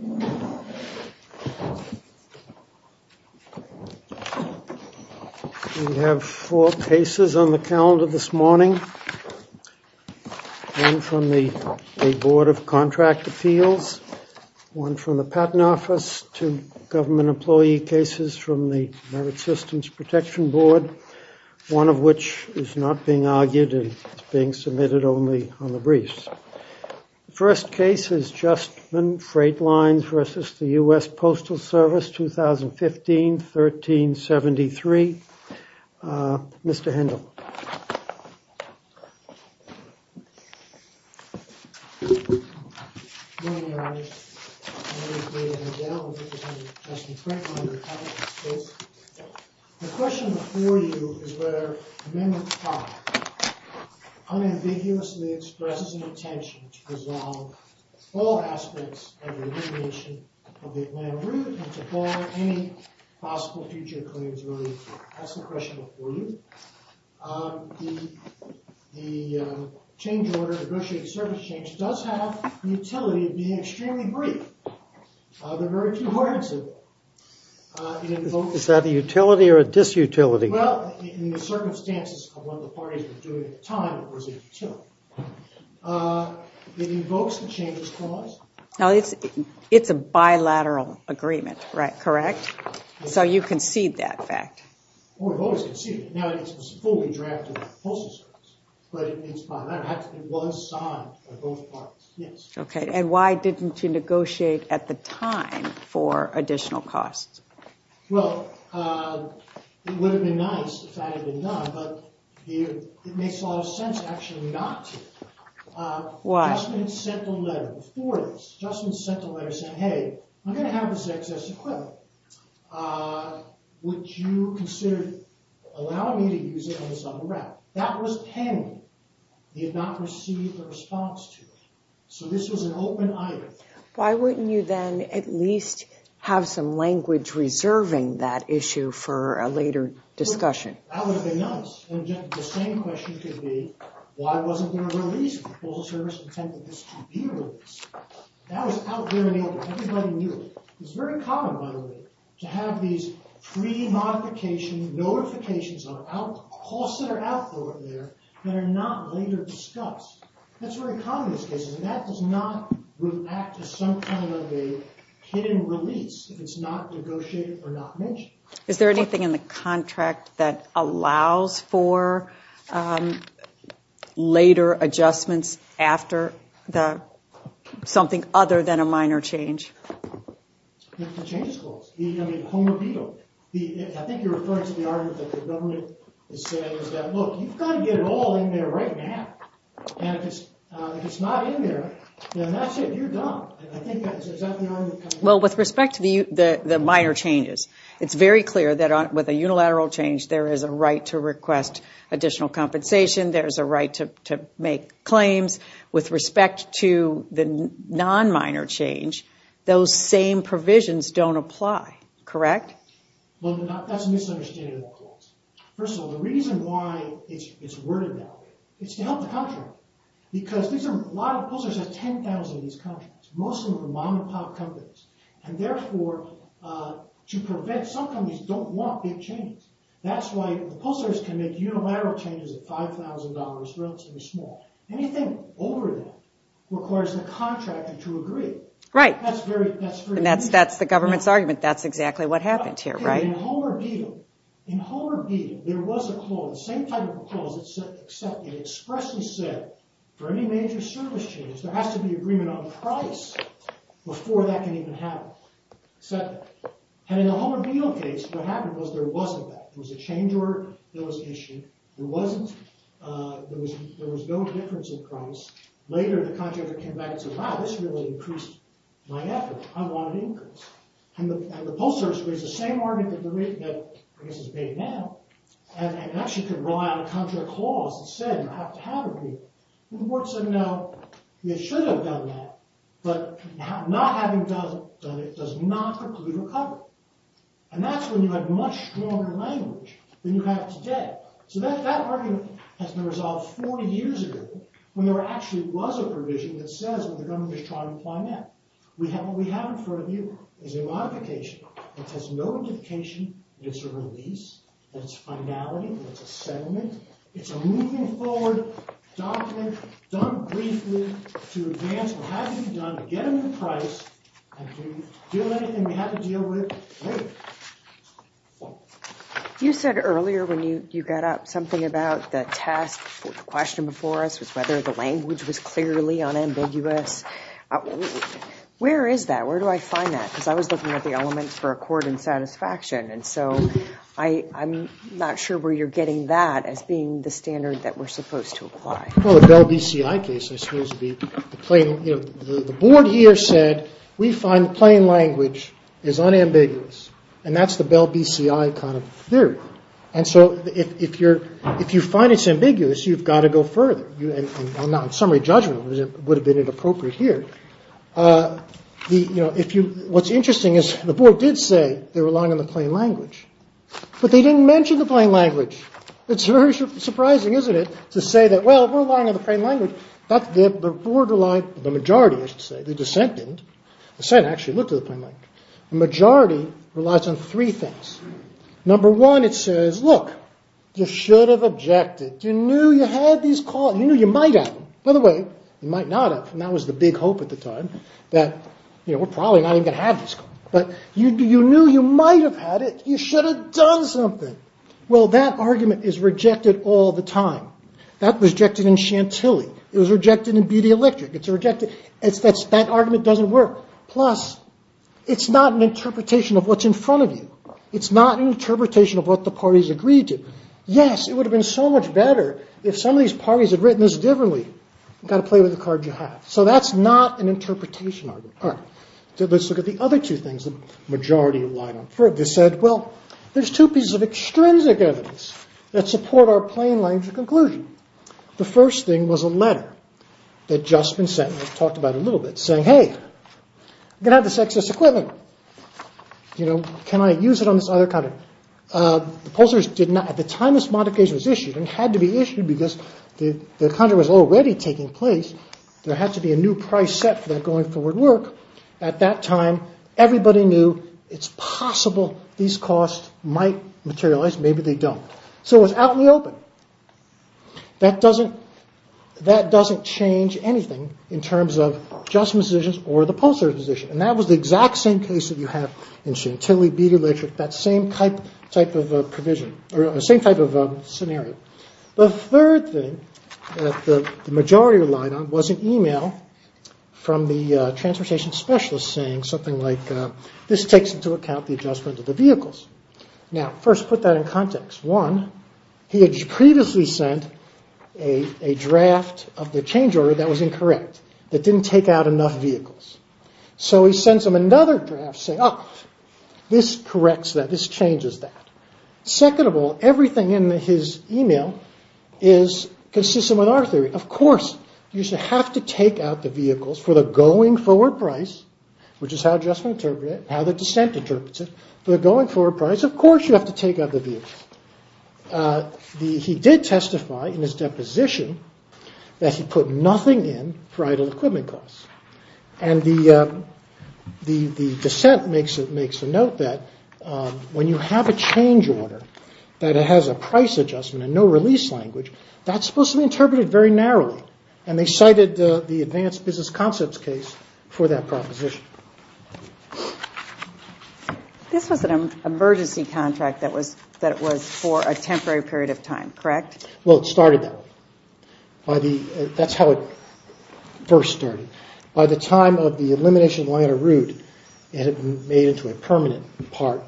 We have four cases on the calendar this morning, one from the Board of Contract Appeals, one from the Patent Office, two government employee cases from the Merit Systems Protection Board, one of which is not being argued and is being submitted only on the briefs. First case is Justman Freight Lines v. US Postal Service, 2015-1373. Mr. Hendel. Good morning, Your Honor. My name is David Hendel, representing Justman Freight Lines. The question before you is whether Amendment 5 unambiguously expresses an intention to resolve all aspects of the remediation of the Atlanta route and to ban any possible future claims related to it. That's the question before you. The change order, negotiated service change, does have the utility of being extremely brief. There are very few words in it. Is that a utility or a disutility? Well, in the circumstances of what the parties were doing at the time, it was a utility. It invokes the changes clause. Now, it's a bilateral agreement, correct? So you concede that fact? Well, we've always conceded it. Now, it's a fully drafted postal service, but it's fine. It was signed by both parties, yes. Okay, and why didn't you negotiate at the time for additional costs? Well, it would have been nice if that had been done, but it makes a lot of sense actually not to. Why? Justman sent a letter before this. Justman sent a letter saying, hey, I'm going to have this excess equipment. Would you consider allowing me to use it on the summer route? That was pending. He had not received a response to it. So this was an open item. Why wouldn't you then at least have some language reserving that issue for a later discussion? That would have been nice. And the same question could be, why wasn't there a release? Postal service intended this to be released. That was out there and everybody knew it. It's very common, by the way, to have these pre-modification notifications of costs that are out there that are not later discussed. That's very common in these cases, and that does not react to some kind of a hidden release if it's not negotiated or not mentioned. Is there anything in the contract that allows for later adjustments after something other than a minor change? The changes goals. I mean, Homer Beadle. I think you're referring to the argument that the government is saying is that, look, you've got to get it all in there right now. And if it's not in there, then that's it. You're done. I think that's exactly the argument. Well, with respect to the minor changes, it's very clear that with a unilateral change, there is a right to request additional compensation. There is a right to make claims. With respect to the non-minor change, those same provisions don't apply, correct? Well, that's a misunderstanding. First of all, the reason why it's worded that way is to help the contractor. Because a lot of the posters have $10,000 in these contracts, mostly from mom-and-pop companies. And therefore, to prevent some companies don't want big changes. That's why the posters can make unilateral changes at $5,000 for relatively small. Anything over that requires the contractor to agree. Right. And that's the government's argument. That's exactly what happened here, right? In Homer Beatle, there was a clause, the same type of clause, except it expressly said, for any major service change, there has to be agreement on price before that can even happen. Except that. And in the Homer Beatle case, what happened was there wasn't that. There was a change order. There was an issue. There was no difference in price. Later, the contractor came back and said, wow, this really increased my effort. I wanted increase. And the posters raised the same argument that I guess is vague now. And actually could rely on a contract clause that said you have to have agreement. Well, the board said, no, you should have done that. But not having done it does not preclude recovery. And that's when you have much stronger language than you have today. So that argument has been resolved 40 years ago, when there actually was a provision that says what the government is trying to imply now. What we have in front of you is a modification. It has no notification. It's a release. It's a finality. It's a settlement. It's a moving forward document done briefly to advance what has to be done to get a new price and to deal with anything we have to deal with later. You said earlier when you got up, something about the test, the question before us was whether the language was clearly unambiguous. Where is that? Where do I find that? Because I was looking at the elements for accord and satisfaction. And so I'm not sure where you're getting that as being the standard that we're supposed to apply. Well, the Bell BCI case, I suppose, the board here said we find plain language is unambiguous. And that's the Bell BCI kind of theory. And so if you find it's ambiguous, you've got to go further. Now, in summary judgment, it would have been inappropriate here. What's interesting is the board did say they were relying on the plain language. But they didn't mention the plain language. It's very surprising, isn't it, to say that, well, we're relying on the plain language. The majority, I should say, the dissent didn't. The dissent actually looked at the plain language. The majority relies on three things. Number one, it says, look, you should have objected. You knew you had these calls. You knew you might have. By the way, you might not have. And that was the big hope at the time, that we're probably not even going to have these calls. But you knew you might have had it. You should have done something. Well, that argument is rejected all the time. That was rejected in Chantilly. It was rejected in BD Electric. It's rejected. That argument doesn't work. Plus, it's not an interpretation of what's in front of you. It's not an interpretation of what the parties agreed to. Yes, it would have been so much better if some of these parties had written this differently. You've got to play with the card you have. So that's not an interpretation argument. All right. Let's look at the other two things. The majority relied on three. They said, well, there's two pieces of extrinsic evidence that support our plain language conclusion. The first thing was a letter that Juspin Sentiment talked about a little bit, saying, hey, I'm going to have this excess equipment. You know, can I use it on this other country? At the time this modification was issued, and it had to be issued because the contract was already taking place, there had to be a new price set for that going forward work. At that time, everybody knew it's possible these costs might materialize. Maybe they don't. So it was out in the open. That doesn't change anything in terms of Juspin's position or the Pulsar's position. And that was the exact same case that you have in Chantilly, Beater, Litchwick, that same type of provision, or same type of scenario. The third thing that the majority relied on was an e-mail from the transportation specialist saying something like, this takes into account the adjustment of the vehicles. Now, first, put that in context. One, he had previously sent a draft of the change order that was incorrect, that didn't take out enough vehicles. So he sends them another draft saying, oh, this corrects that, this changes that. Second of all, everything in his e-mail is consistent with our theory. Of course, you should have to take out the vehicles for the going forward price, which is how Juspin interpreted it, how the dissent interprets it. For the going forward price, of course you have to take out the vehicles. He did testify in his deposition that he put nothing in for idle equipment costs. And the dissent makes the note that when you have a change order that has a price adjustment and no release language, that's supposed to be interpreted very narrowly. And they cited the advanced business concepts case for that proposition. This was an emergency contract that was for a temporary period of time, correct? Well, it started that way. That's how it first started. By the time of the elimination of the Atlanta route, it had been made into a permanent part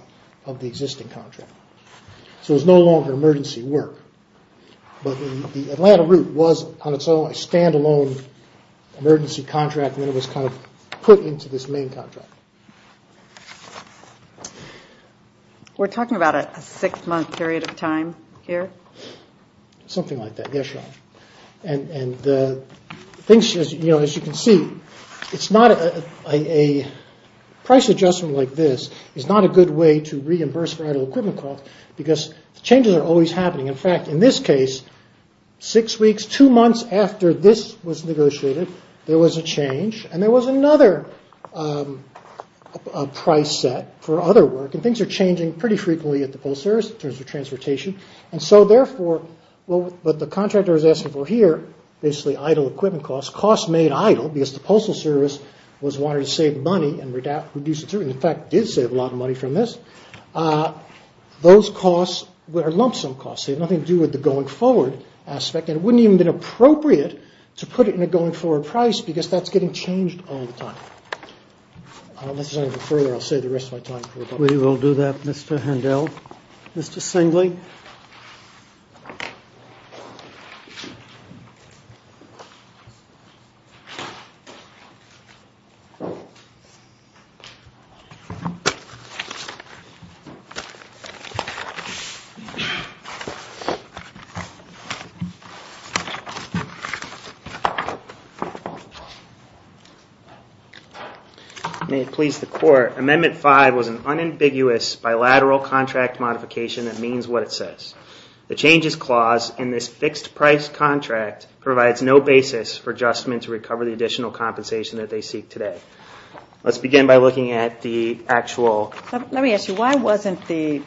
of the existing contract. So it was no longer emergency work. But the Atlanta route was on its own a stand-alone emergency contract, and then it was kind of put into this main contract. We're talking about a six-month period of time here? Something like that, yes. As you can see, a price adjustment like this is not a good way to reimburse for idle equipment costs, because changes are always happening. In fact, in this case, six weeks, two months after this was negotiated, there was a change, and there was another price set for other work, and things are changing pretty frequently at the Postal Service in terms of transportation. And so therefore, what the contractor is asking for here, basically idle equipment costs, costs made idle because the Postal Service was wanting to save money and reduce it. In fact, it did save a lot of money from this. Those costs were lump-sum costs. They had nothing to do with the going-forward aspect, and it wouldn't even have been appropriate to put it in a going-forward price, because that's getting changed all the time. Unless there's anything further, I'll save the rest of my time. We will do that, Mr. Handel. Mr. Singley? May it please the Court, Amendment 5 was an unambiguous bilateral contract modification that means what it says. The changes clause in this fixed-price contract provides no basis for Justman to recover the additional compensation that they seek today. Let's begin by looking at the actual... Let me ask you, why wasn't the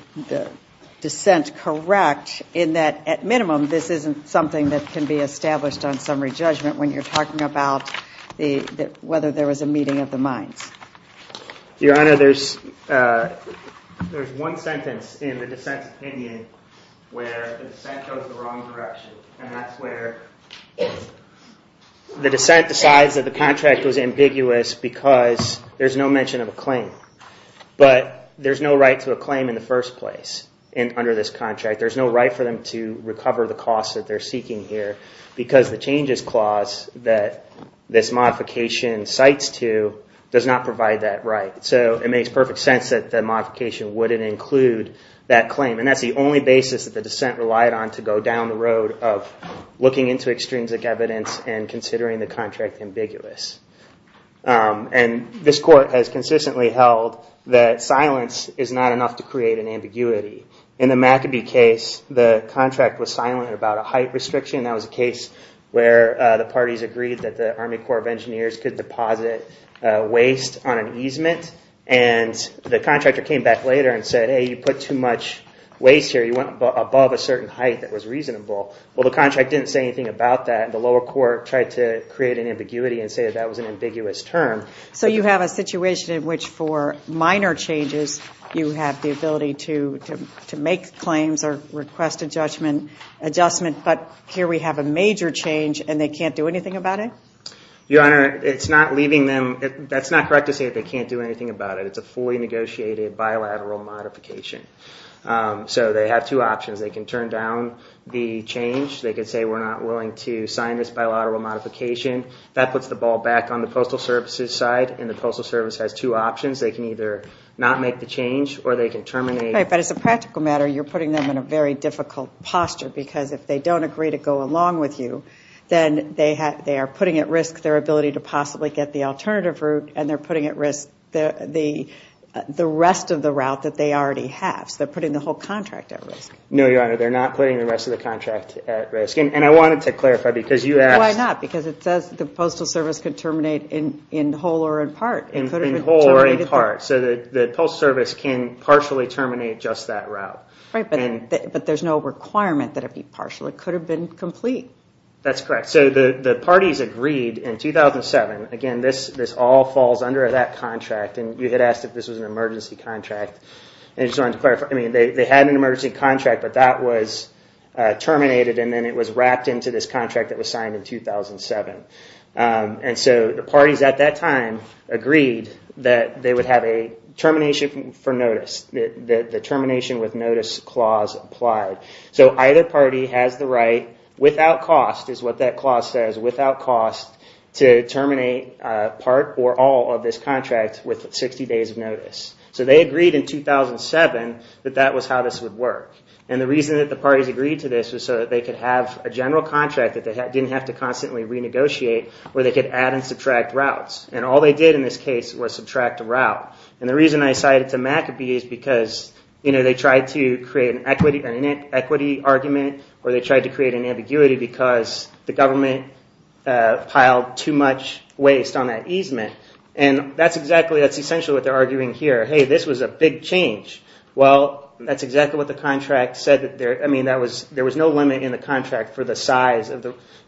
dissent correct in that, at minimum, this isn't something that can be established on summary judgment when you're talking about whether there was a meeting of the minds? Your Honor, there's one sentence in the dissent's opinion where the dissent chose the wrong direction, and that's where the dissent decides that the contract was ambiguous because there's no mention of a claim. But there's no right to a claim in the first place under this contract. There's no right for them to recover the costs that they're seeking here because the changes clause that this modification cites to does not provide that right. So it makes perfect sense that the modification wouldn't include that claim. And that's the only basis that the dissent relied on to go down the road of looking into extrinsic evidence and considering the contract ambiguous. And this Court has consistently held that silence is not enough to create an ambiguity. In the McAbee case, the contract was silent about a height restriction. That was a case where the parties agreed that the Army Corps of Engineers could deposit waste on an easement, and the contractor came back later and said, hey, you put too much waste here. You went above a certain height that was reasonable. Well, the contract didn't say anything about that. The lower court tried to create an ambiguity and say that that was an ambiguous term. So you have a situation in which, for minor changes, you have the ability to make claims or request adjustment, but here we have a major change and they can't do anything about it? Your Honor, it's not leaving them. That's not correct to say that they can't do anything about it. It's a fully negotiated bilateral modification. So they have two options. They can turn down the change. They can say we're not willing to sign this bilateral modification. That puts the ball back on the Postal Service's side, and the Postal Service has two options. They can either not make the change or they can terminate. But as a practical matter, you're putting them in a very difficult posture because if they don't agree to go along with you, then they are putting at risk their ability to possibly get the alternative route, and they're putting at risk the rest of the route that they already have. So they're putting the whole contract at risk. No, Your Honor, they're not putting the rest of the contract at risk. And I wanted to clarify because you asked. Why not? Because it says the Postal Service can terminate in whole or in part. So the Postal Service can partially terminate just that route. Right, but there's no requirement that it be partial. It could have been complete. That's correct. So the parties agreed in 2007. Again, this all falls under that contract, and you had asked if this was an emergency contract. I just wanted to clarify. They had an emergency contract, but that was terminated, and then it was wrapped into this contract that was signed in 2007. And so the parties at that time agreed that they would have a termination for notice, the termination with notice clause applied. So either party has the right without cost, is what that clause says, without cost to terminate part or all of this contract with 60 days of notice. So they agreed in 2007 that that was how this would work. And the reason that the parties agreed to this was so that they could have a general contract that they didn't have to constantly renegotiate, where they could add and subtract routes. And all they did in this case was subtract a route. And the reason I cited to McAbee is because they tried to create an equity argument or they tried to create an ambiguity because the government piled too much waste on that easement. And that's essentially what they're arguing here. Hey, this was a big change. Well, that's exactly what the contract said. There was no limit in the contract for the size of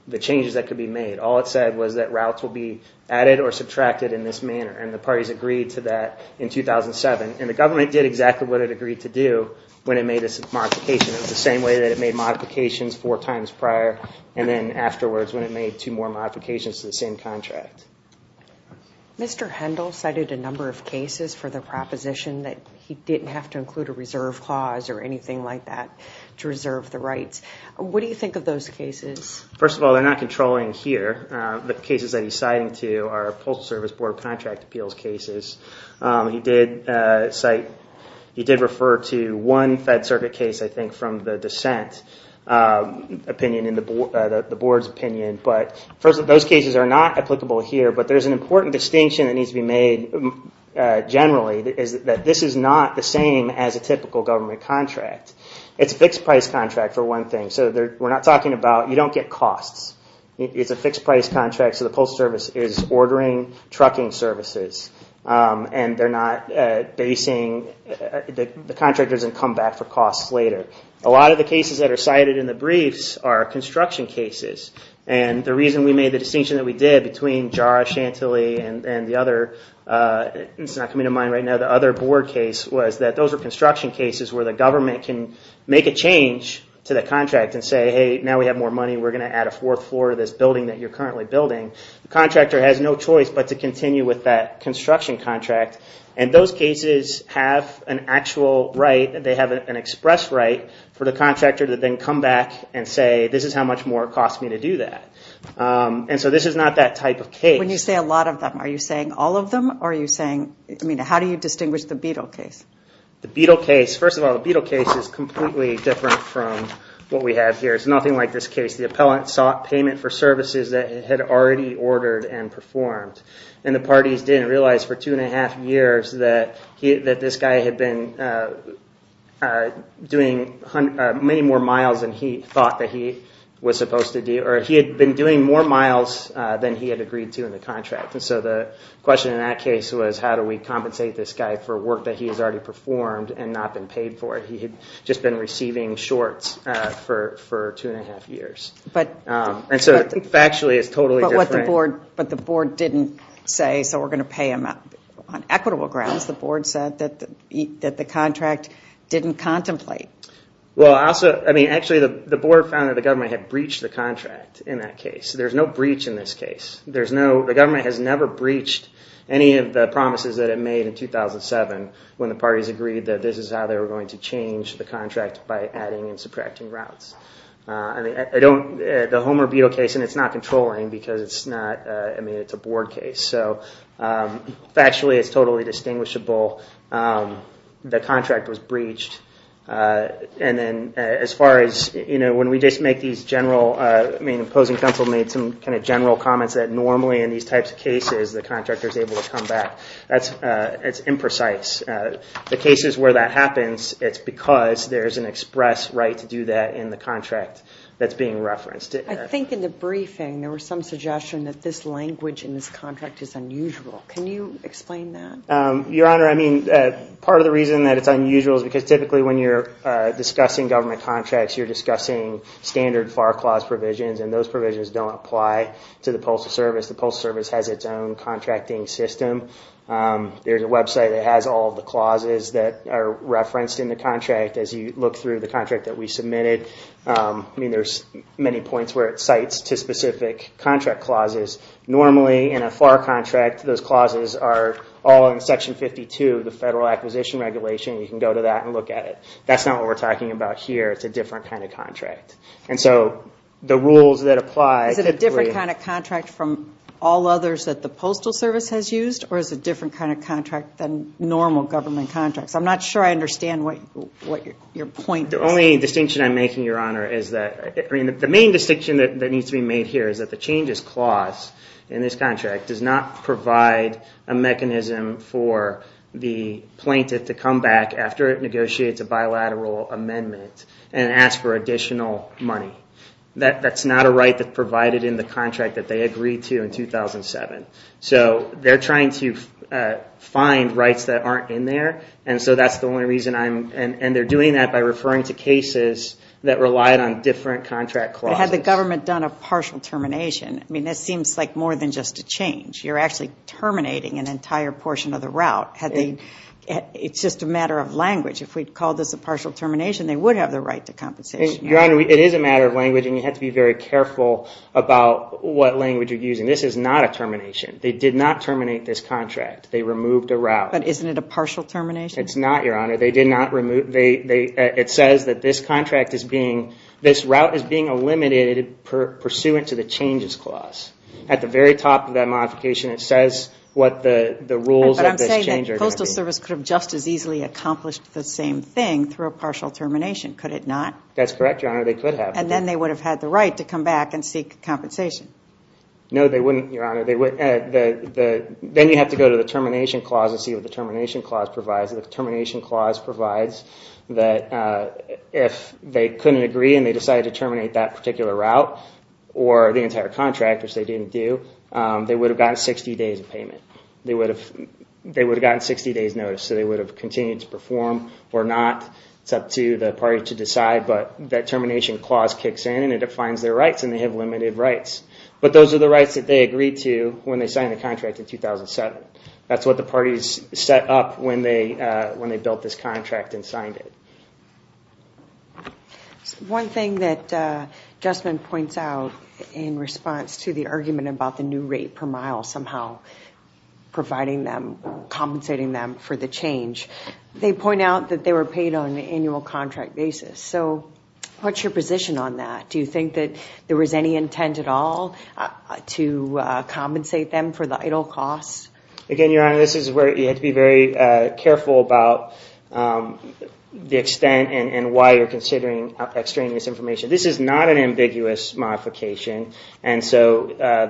the changes that could be made. All it said was that routes will be added or subtracted in this manner. And the parties agreed to that in 2007. And the government did exactly what it agreed to do when it made this modification. It was the same way that it made modifications four times prior and then afterwards when it made two more modifications to the same contract. Mr. Hendel cited a number of cases for the proposition that he didn't have to include a reserve clause or anything like that to reserve the rights. What do you think of those cases? First of all, they're not controlling here. The cases that he's citing to are Postal Service Board of Contract Appeals cases. He did cite, he did refer to one Fed Circuit case, I think, from the dissent opinion in the board's opinion. But those cases are not applicable here. But there's an important distinction that needs to be made generally is that this is not the same as a typical government contract. It's a fixed-price contract, for one thing. So we're not talking about, you don't get costs. It's a fixed-price contract, so the Postal Service is ordering trucking services. And they're not basing, the contractor doesn't come back for costs later. A lot of the cases that are cited in the briefs are construction cases. And the reason we made the distinction that we did between JARA, Chantilly, and the other, it's not coming to mind right now, the other board case, was that those were construction cases where the government can make a change to the contract and say, hey, now we have more money, we're going to add a fourth floor to this building that you're currently building. The contractor has no choice but to continue with that construction contract. And those cases have an actual right, they have an express right, for the contractor to then come back and say, this is how much more it costs me to do that. And so this is not that type of case. When you say a lot of them, are you saying all of them? Or are you saying, I mean, how do you distinguish the Beadle case? The Beadle case, first of all, the Beadle case is completely different from what we have here. It's nothing like this case. The appellant sought payment for services that had already ordered and performed. And the parties didn't realize for two and a half years that this guy had been doing many more miles than he thought that he was supposed to do, or he had been doing more miles than he had agreed to in the contract. And so the question in that case was, how do we compensate this guy for work that he has already performed and not been paid for it? He had just been receiving shorts for two and a half years. And so factually it's totally different. But the board didn't say, so we're going to pay him on equitable grounds. The board said that the contract didn't contemplate. Actually, the board found that the government had breached the contract in that case. There's no breach in this case. The government has never breached any of the promises that it made in 2007 when the parties agreed that this is how they were going to change the contract by adding and subtracting routes. The Homer Beadle case, and it's not controlling because it's a board case. So factually it's totally distinguishable. The contract was breached. And then as far as when we just make these general, I mean the opposing counsel made some kind of general comments that normally in these types of cases the contractor is able to come back. That's imprecise. The cases where that happens, it's because there's an express right to do that in the contract that's being referenced. I think in the briefing there was some suggestion that this language in this contract is unusual. Can you explain that? Your Honor, I mean part of the reason that it's unusual is because typically when you're discussing government contracts you're discussing standard FAR clause provisions, and those provisions don't apply to the Postal Service. The Postal Service has its own contracting system. There's a website that has all the clauses that are referenced in the contract as you look through the contract that we submitted. I mean there's many points where it cites to specific contract clauses. Normally in a FAR contract those clauses are all in Section 52, the Federal Acquisition Regulation. You can go to that and look at it. That's not what we're talking about here. It's a different kind of contract. And so the rules that apply... Is it a different kind of contract from all others that the Postal Service has used, or is it a different kind of contract than normal government contracts? I'm not sure I understand what your point is. The only distinction I'm making, Your Honor, is that, I mean the main distinction that needs to be made here is that the changes clause in this contract does not provide a mechanism for the plaintiff to come back after it negotiates a bilateral amendment and ask for additional money. That's not a right that's provided in the contract that they agreed to in 2007. So they're trying to find rights that aren't in there, and so that's the only reason I'm... And they're doing that by referring to cases that relied on different contract clauses. But had the government done a partial termination, I mean this seems like more than just a change. You're actually terminating an entire portion of the route. It's just a matter of language. If we'd called this a partial termination, they would have the right to compensation. Your Honor, it is a matter of language, and you have to be very careful about what language you're using. This is not a termination. They did not terminate this contract. They removed a route. But isn't it a partial termination? It's not, Your Honor. It says that this route is being eliminated pursuant to the changes clause. At the very top of that modification, it says what the rules of this change are going to be. But I'm saying that the Postal Service could have just as easily accomplished the same thing through a partial termination, could it not? That's correct, Your Honor. They could have. And then they would have had the right to come back and seek compensation. No, they wouldn't, Your Honor. Then you have to go to the termination clause and see what the termination clause provides. The termination clause provides that if they couldn't agree and they decided to terminate that particular route, or the entire contract, which they didn't do, they would have gotten 60 days of payment. They would have gotten 60 days notice. So they would have continued to perform or not. It's up to the party to decide. But that termination clause kicks in, and it defines their rights, and they have limited rights. But those are the rights that they agreed to when they signed the contract in 2007. That's what the parties set up when they built this contract and signed it. One thing that Justman points out in response to the argument about the new rate per mile somehow providing them, compensating them for the change, they point out that they were paid on an annual contract basis. So what's your position on that? Do you think that there was any intent at all to compensate them for the idle costs? Again, Your Honor, this is where you have to be very careful about the extent and why you're considering extraneous information. This is not an ambiguous modification, and so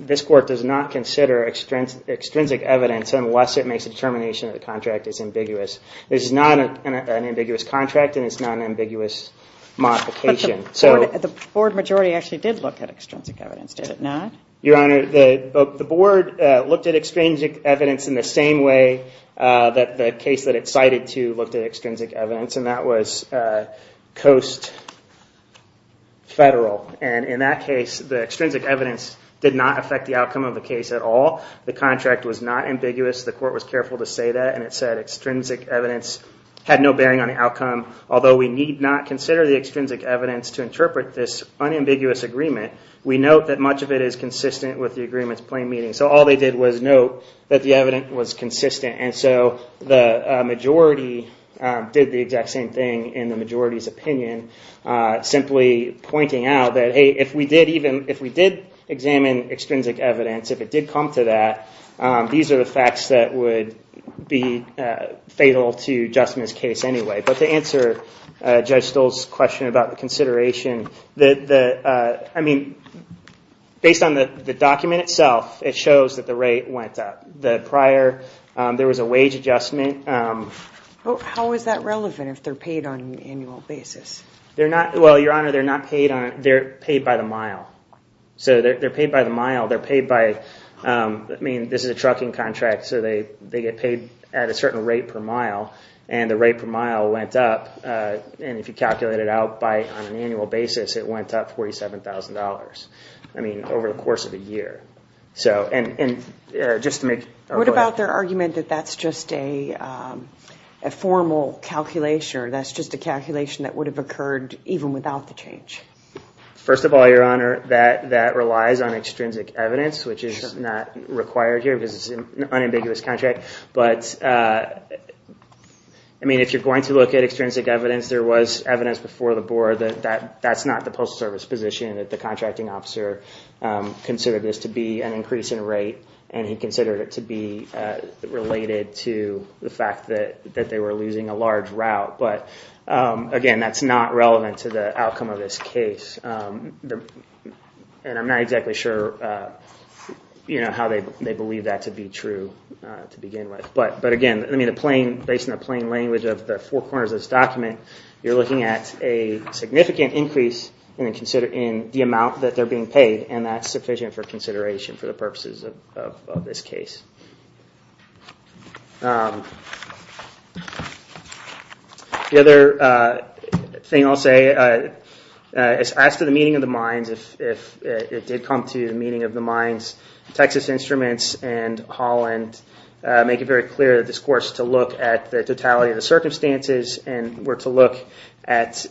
this court does not consider extrinsic evidence unless it makes a determination that the contract is ambiguous. This is not an ambiguous contract, and it's not an ambiguous modification. But the board majority actually did look at extrinsic evidence, did it not? Your Honor, the board looked at extrinsic evidence in the same way that the case that it cited to looked at extrinsic evidence, and that was Coast Federal. And in that case, the extrinsic evidence did not affect the outcome of the case at all. The contract was not ambiguous. The court was careful to say that, and it said extrinsic evidence had no bearing on the outcome. Although we need not consider the extrinsic evidence to interpret this unambiguous agreement, we note that much of it is consistent with the agreement's plain meaning. So all they did was note that the evidence was consistent. And so the majority did the exact same thing in the majority's opinion, simply pointing out that, hey, if we did examine extrinsic evidence, if it did come to that, these are the facts that would be fatal to Justin's case anyway. But to answer Judge Stoll's question about the consideration, I mean, based on the document itself, it shows that the rate went up. The prior, there was a wage adjustment. How is that relevant if they're paid on an annual basis? Well, Your Honor, they're paid by the mile. So they're paid by the mile. I mean, this is a trucking contract, so they get paid at a certain rate per mile, and the rate per mile went up, and if you calculate it out on an annual basis, it went up $47,000, I mean, over the course of a year. What about their argument that that's just a formal calculation or that's just a calculation that would have occurred even without the change? First of all, Your Honor, that relies on extrinsic evidence, which is not required here because it's an unambiguous contract. But, I mean, if you're going to look at extrinsic evidence, there was evidence before the board that that's not the Postal Service position, that the contracting officer considered this to be an increase in rate and he considered it to be related to the fact that they were losing a large route. But, again, that's not relevant to the outcome of this case, and I'm not exactly sure how they believe that to be true to begin with. But, again, based on the plain language of the four corners of this document, you're looking at a significant increase in the amount that they're being paid, and that's sufficient for consideration for the purposes of this case. The other thing I'll say, as to the meaning of the mines, if it did come to the meaning of the mines, Texas Instruments and Holland make it very clear that this court is to look at the totality of the circumstances and were to look at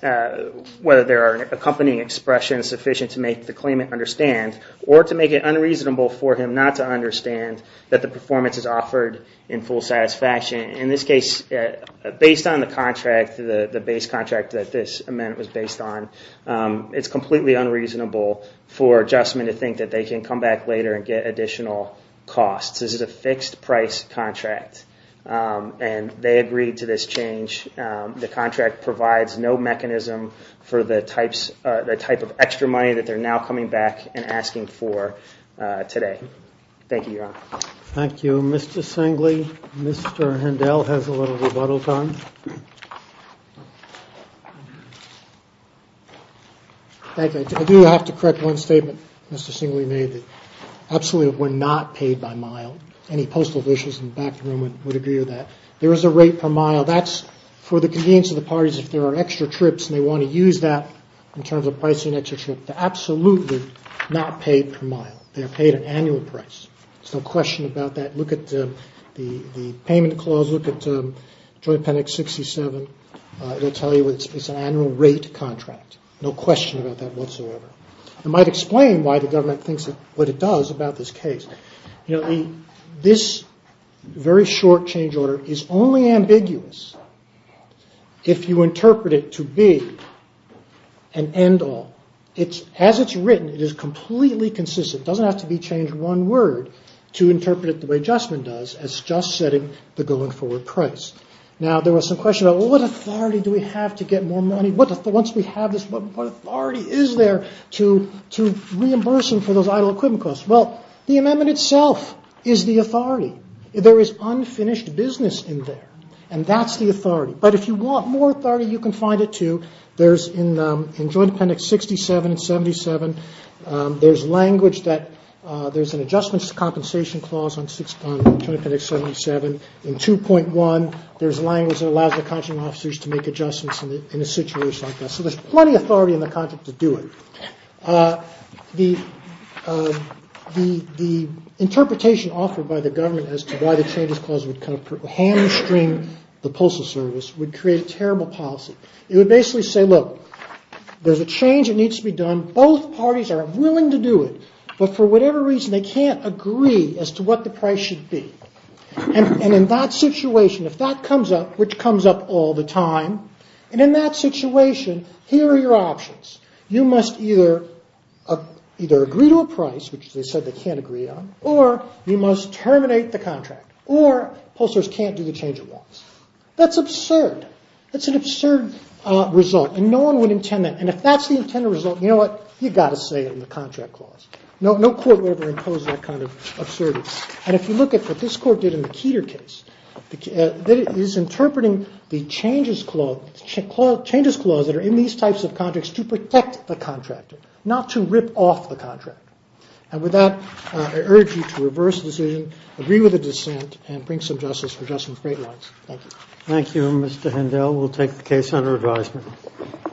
whether there are accompanying expressions sufficient to make the claimant understand or to make it unreasonable for him not to understand that the performance is offered in full satisfaction. In this case, based on the contract, the base contract that this amendment was based on, it's completely unreasonable for Adjustment to think that they can come back later and get additional costs. This is a fixed-price contract, and they agreed to this change. The contract provides no mechanism for the type of extra money that they're now coming back and asking for today. Thank you, Your Honor. Thank you, Mr. Singley. Mr. Hendel has a little rebuttal time. I do have to correct one statement Mr. Singley made, that absolutely we're not paid by mile. Any postal officials in the back room would agree with that. There is a rate per mile. That's for the convenience of the parties if there are extra trips and they want to use that in terms of pricing an extra trip. They're absolutely not paid per mile. They're paid an annual price. There's no question about that. Look at the payment clause, look at Joint Appendix 67. It'll tell you it's an annual rate contract. No question about that whatsoever. It might explain why the government thinks what it does about this case. This very short change order is only ambiguous if you interpret it to be an end-all. As it's written, it is completely consistent. It doesn't have to be changed one word to interpret it the way Justman does, as just setting the going-forward price. What authority do we have to get more money? What authority is there to reimburse them for those idle equipment costs? The amendment itself is the authority. There is unfinished business in there. That's the authority. But if you want more authority, you can find it too. In Joint Appendix 67 and 77, there's language that there's an adjustments compensation clause on Joint Appendix 77. In 2.1, there's language that allows the contracting officers to make adjustments in a situation like that. So there's plenty of authority in the contract to do it. The interpretation offered by the government as to why the changes clause would kind of hamstring the postal service would create a terrible policy. It would basically say, look, there's a change that needs to be done. Both parties are willing to do it. But for whatever reason, they can't agree as to what the price should be. And in that situation, if that comes up, which comes up all the time, and in that situation, here are your options. You must either agree to a price, which they said they can't agree on, or you must terminate the contract, or postal service can't do the change it wants. That's absurd. That's an absurd result. And no one would intend that. And if that's the intended result, you know what? You've got to say it in the contract clause. No court would ever impose that kind of absurdity. And if you look at what this court did in the Keter case, it is interpreting the changes clause that are in these types of contracts to protect the contractor, not to rip off the contractor. And with that, I urge you to reverse the decision, agree with the dissent, and bring some justice for Justin's great rights. Thank you. Thank you, Mr. Hindell. We'll take the case under advisement.